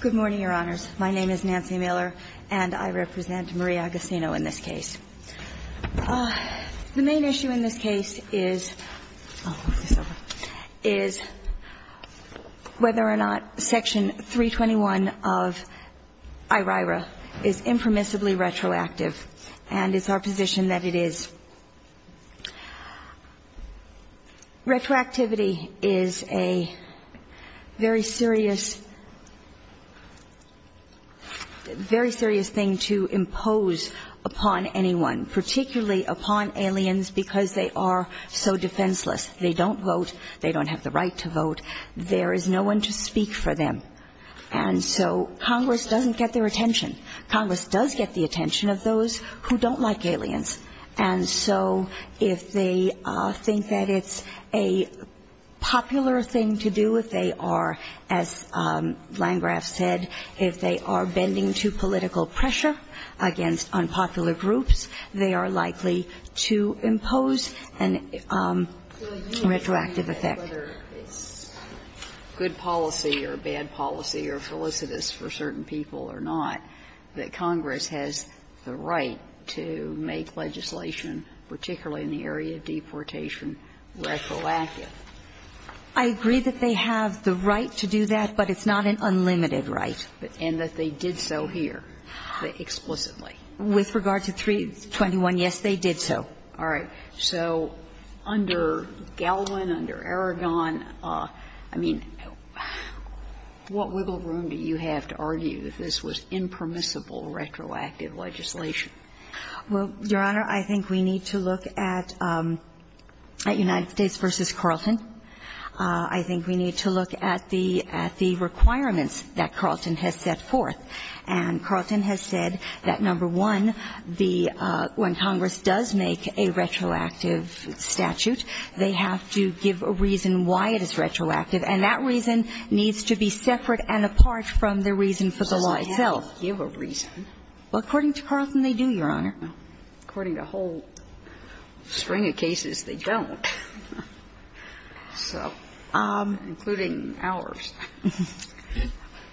Good morning, Your Honors. My name is Nancy Miller, and I represent Maria Agasino in this case. The main issue in this case is whether or not Section 321 of IRIRA is impermissibly retroactive, and it's our position that it is. Retroactivity is a very serious thing to impose upon anyone, particularly upon aliens because they are so defenseless. They don't vote. They don't have the right to vote. There is no one to speak for them. And so Congress doesn't get their attention. Congress does get the attention of those who don't like aliens. And so if they think that it's a popular thing to do, if they are, as Landgraf said, if they are bending to political pressure against unpopular groups, they are likely to impose a retroactive effect. Sotomayor, whether it's good policy or bad policy or felicitous for certain people or not, that Congress has the right to make legislation, particularly in the area of deportation, retroactive. I agree that they have the right to do that, but it's not an unlimited right. And that they did so here, explicitly. With regard to 321, yes, they did so. All right. So under Galwin, under Aragon, I mean, what wiggle room do you have to argue that this was impermissible retroactive legislation? Well, Your Honor, I think we need to look at United States v. Carlton. I think we need to look at the requirements that Carlton has set forth. And Carlton has said that, number one, the – when Congress does make a retroactive statute, they have to give a reason why it is retroactive. And that reason needs to be separate and apart from the reason for the law itself. Doesn't have to give a reason. Well, according to Carlton, they do, Your Honor. According to a whole string of cases, they don't. So, including ours.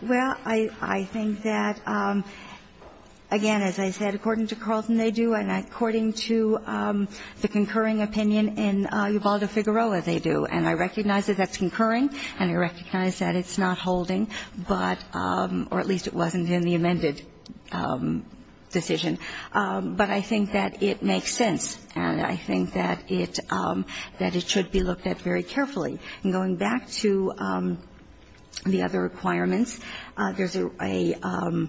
Well, I think that, again, as I said, according to Carlton, they do. And according to the concurring opinion in Ubaldo-Figueroa, they do. And I recognize that that's concurring, and I recognize that it's not holding, but – or at least it wasn't in the amended decision. But I think that it makes sense. And I think that it – that it should be looked at very carefully. And going back to the other requirements, there's a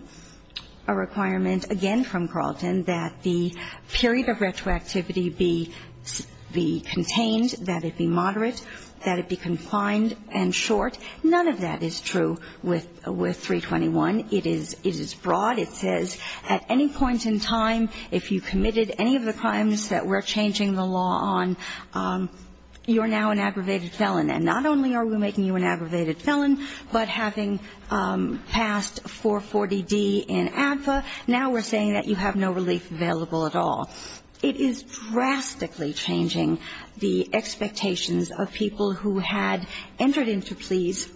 requirement, again, from Carlton that the period of retroactivity be contained, that it be moderate, that it be confined and short. None of that is true with 321. It is broad. It says at any point in time, if you committed any of the crimes that we're changing the law on, you're now an aggravated felon. And not only are we making you an aggravated felon, but having passed 440D in ADFA, now we're saying that you have no relief available at all. It is drastically changing the expectations of people who had entered into pleas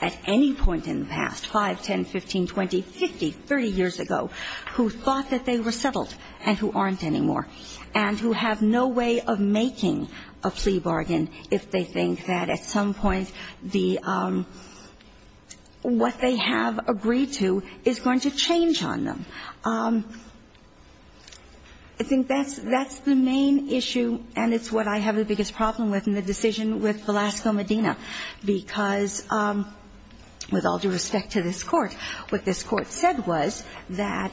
at any point in the past, 5, 10, 15, 20, 50, 30 years ago, who thought that they were settled and who aren't anymore, and who have no way of making a plea bargain if they think that at some point the – what they have agreed to is going to change on them. I think that's – that's the main issue, and it's what I have the biggest problem with in the decision with Velasco Medina, because with all due respect to this Court, what this Court said was that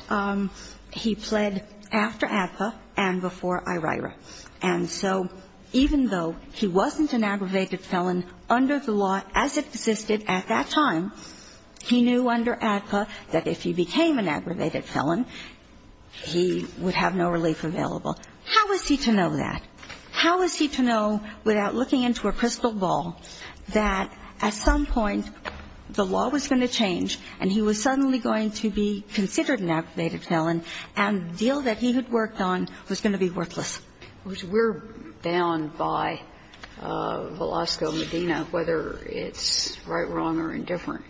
he pled after ADFA and before IRIRA. And so even though he wasn't an aggravated felon under the law as it existed at that time, he knew under ADFA that if he became an aggravated felon, he would have no relief available. How was he to know that? How was he to know without looking into a crystal ball that at some point the law was going to change, and he was suddenly going to be considered an aggravated felon, and the deal that he had worked on was going to be worthless? We're bound by Velasco Medina, whether it's right, wrong, or indifferent.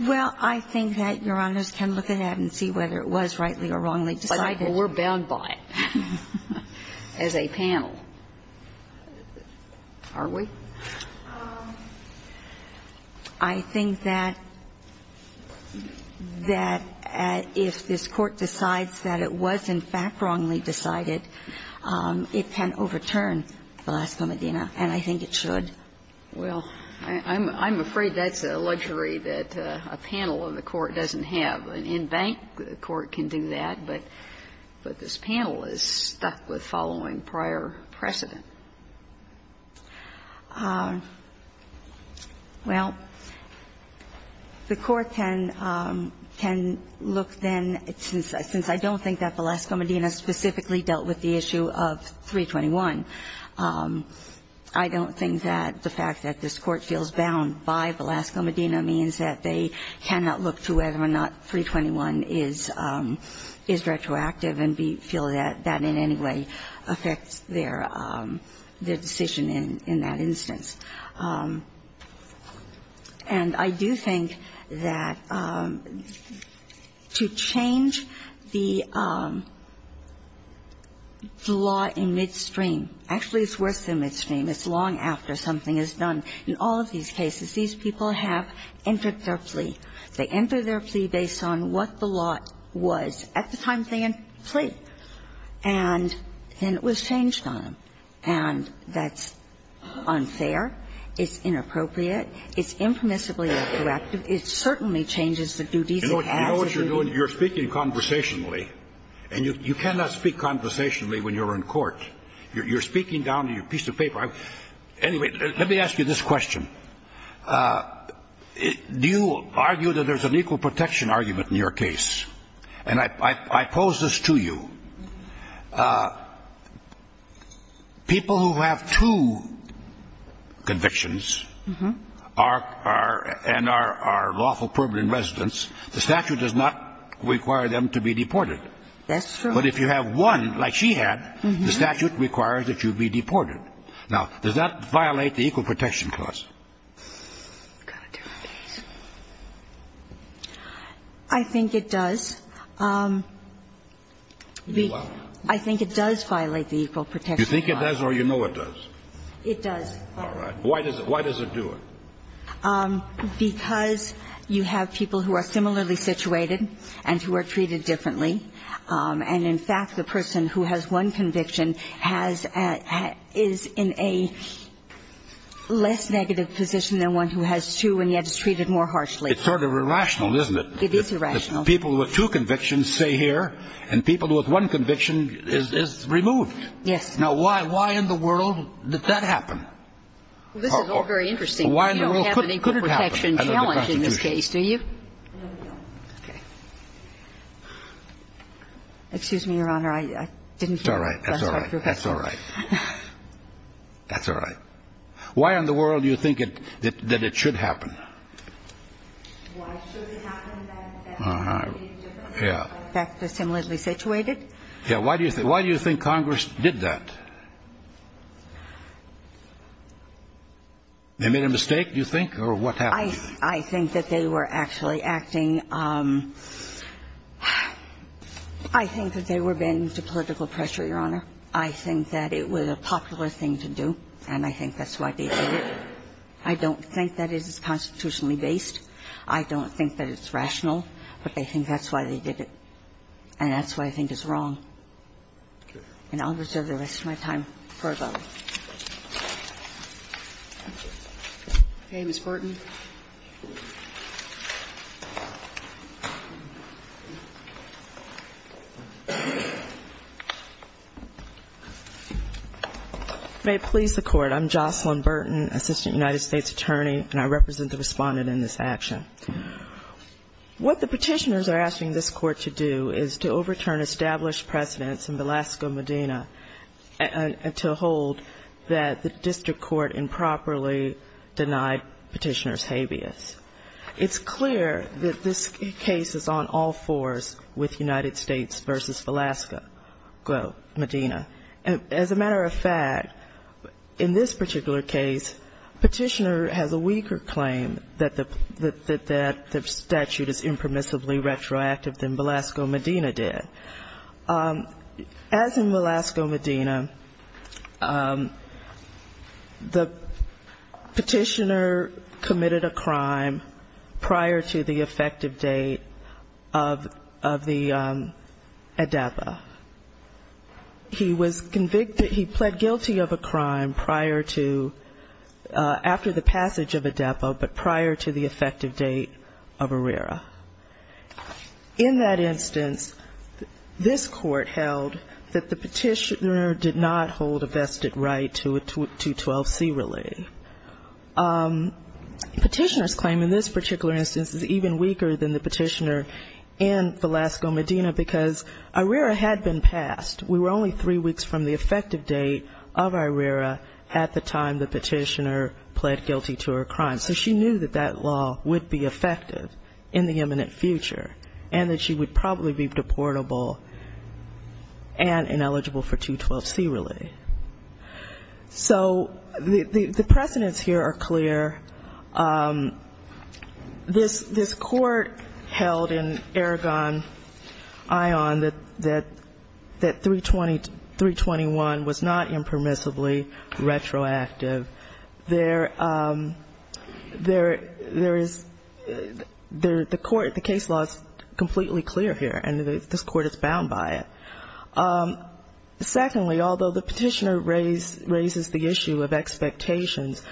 Well, I think that Your Honors can look ahead and see whether it was rightly or wrongly decided. But we're bound by it as a panel, aren't we? I think that if this Court decides that it was, in fact, wrongly decided, it can overturn Velasco Medina, and I think it should. Well, I'm afraid that's a luxury that a panel of the Court doesn't have. An in-bank court can do that, but this panel is stuck with following prior precedent. Well, the Court can look then, since I don't think that Velasco Medina specifically dealt with the issue of 321, I don't think that the fact that this Court feels bound by Velasco Medina means that they cannot look to whether or not 321 is retroactive and feel that that in any way affects their decision in that instance. And I do think that to change the law in midstream, actually, it's worse than midstream. It's long after something is done. In all of these cases, these people have entered their plea. They enter their plea based on what the lot was at the time they entered the plea. And then it was changed on them. And that's unfair. It's inappropriate. It's impermissibly retroactive. It certainly changes the duties it has. You know what you're doing? You're speaking conversationally, and you cannot speak conversationally when you're in court. You're speaking down to your piece of paper. Anyway, let me ask you this question. Do you argue that there's an equal protection argument in your case? And I pose this to you. People who have two convictions are lawful permanent residents. The statute does not require them to be deported. That's true. But if you have one, like she had, the statute requires that you be deported. Now, does that violate the equal protection clause? I think it does. I think it does violate the equal protection clause. You think it does or you know it does? It does. All right. Why does it do it? Because you have people who are similarly situated and who are treated differently. And in fact, the person who has one conviction has at – is in a less negative position than one who has two and yet is treated more harshly. It's sort of irrational, isn't it? It is irrational. People with two convictions stay here, and people with one conviction is removed. Yes. Now, why in the world did that happen? This is all very interesting. You don't have an equal protection challenge in this case, do you? No, we don't. Okay. Excuse me, Your Honor. I didn't hear that. That's all right. That's all right. That's all right. That's all right. Why in the world do you think it – that it should happen? Why should it happen? Uh-huh. Yeah. In fact, they're similarly situated. Yeah. Why do you think Congress did that? They made a mistake, do you think, or what happened? I think that they were actually acting – I think that they were bending to political pressure, Your Honor. I think that it was a popular thing to do, and I think that's why they did it. I don't think that it is constitutionally based. I don't think that it's rational, but I think that's why they did it. And that's why I think it's wrong. Okay. And I'll reserve the rest of my time for those. Okay. Thank you, Ms. Burton. If it may please the Court, I'm Jocelyn Burton, Assistant United States Attorney, and I represent the Respondent in this action. What the Petitioners are asking this Court to do is to overturn established precedents in Velasco, Medina, and to hold that the district court improperly denied Petitioners' habeas. It's clear that this case is on all fours with United States v. Velasco, Medina. And as a matter of fact, in this particular case, Petitioner has a weaker claim that the statute is impermissibly retroactive than Velasco, Medina did. As in Velasco, Medina, the Petitioner committed a crime prior to the effective date of the ADEPA. He was convicted, he pled guilty of a crime prior to, after the passage of ADEPA, but prior to the effective date of ARERA. In that instance, this Court held that the Petitioner did not hold a vested right to a 212C relay. Petitioners claim in this particular instance is even weaker than the Petitioner in Velasco, Medina, because ARERA had been passed. We were only three weeks from the effective date of ARERA at the time the Petitioner pled guilty to a crime. So she knew that that law would be effective in the imminent future, and that she would probably be deportable and ineligible for 212C relay. So the precedents here are clear. This Court held in Aragon Ion that 321 was not impermissibly retroactive. There is, the Court, the case law is completely clear here, and this Court is bound by it. Secondly, although the Petitioner raises the issue of expectations,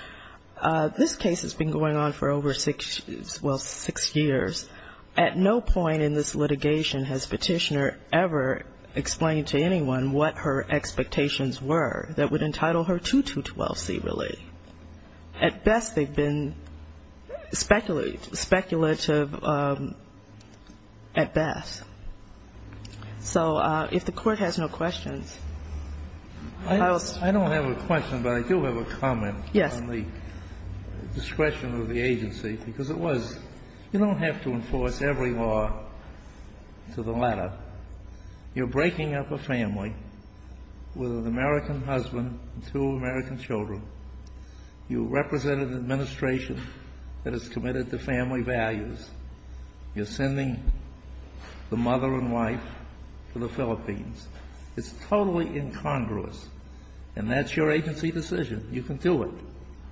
this case has been going on for over six, well, six years. At no point in this litigation has Petitioner ever explained to anyone what her expectations were that would entitle her to 212C relay. At best, they've been speculative at best. So if the Court has no questions. I don't have a question, but I do have a comment on the discretion of the agency, because it was, you don't have to enforce every law to the latter. You're breaking up a family with an American husband and two American children. You represent an administration that is committed to family values. You're sending the mother and wife to the Philippines. It's totally incongruous, and that's your agency decision. You can do it,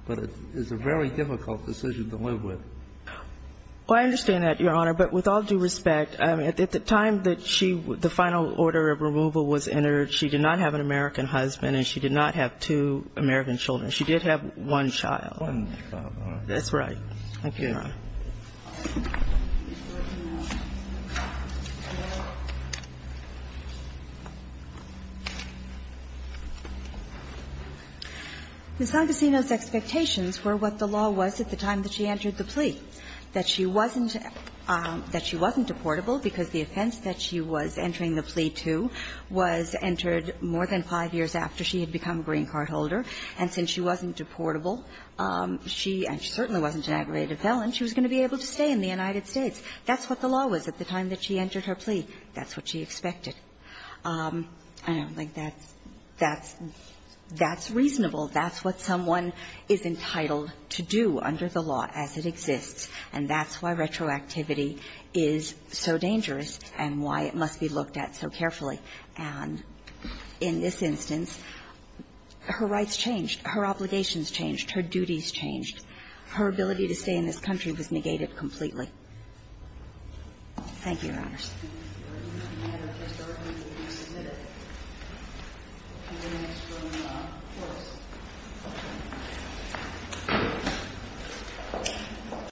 but it is a very difficult decision to live with. Well, I understand that, Your Honor, but with all due respect, at the time that she, the final order of removal was entered, she did not have an American husband and she did not have two American children. She did have one child. One child. Thank you, Your Honor. Ms. Sangacino's expectations were what the law was at the time that she entered the plea, that she wasn't deportable because the offense that she was entering the plea to was entered more than five years after she had become a green card holder, and since she wasn't deportable, she, and she certainly wasn't an aggravated felon, she was going to be able to stay in the United States. That's what the law was at the time that she entered her plea. That's what she expected. I don't think that's reasonable. That's what someone is entitled to do under the law as it exists, and that's why retroactivity is so dangerous and why it must be looked at so carefully. And in this instance, her rights changed, her obligations changed, her duties changed. Her ability to stay in this country was negated completely. Thank you, Your Honors. Thank you, Your Honor. Mr. Ervin will be submitted to the next ruling on force.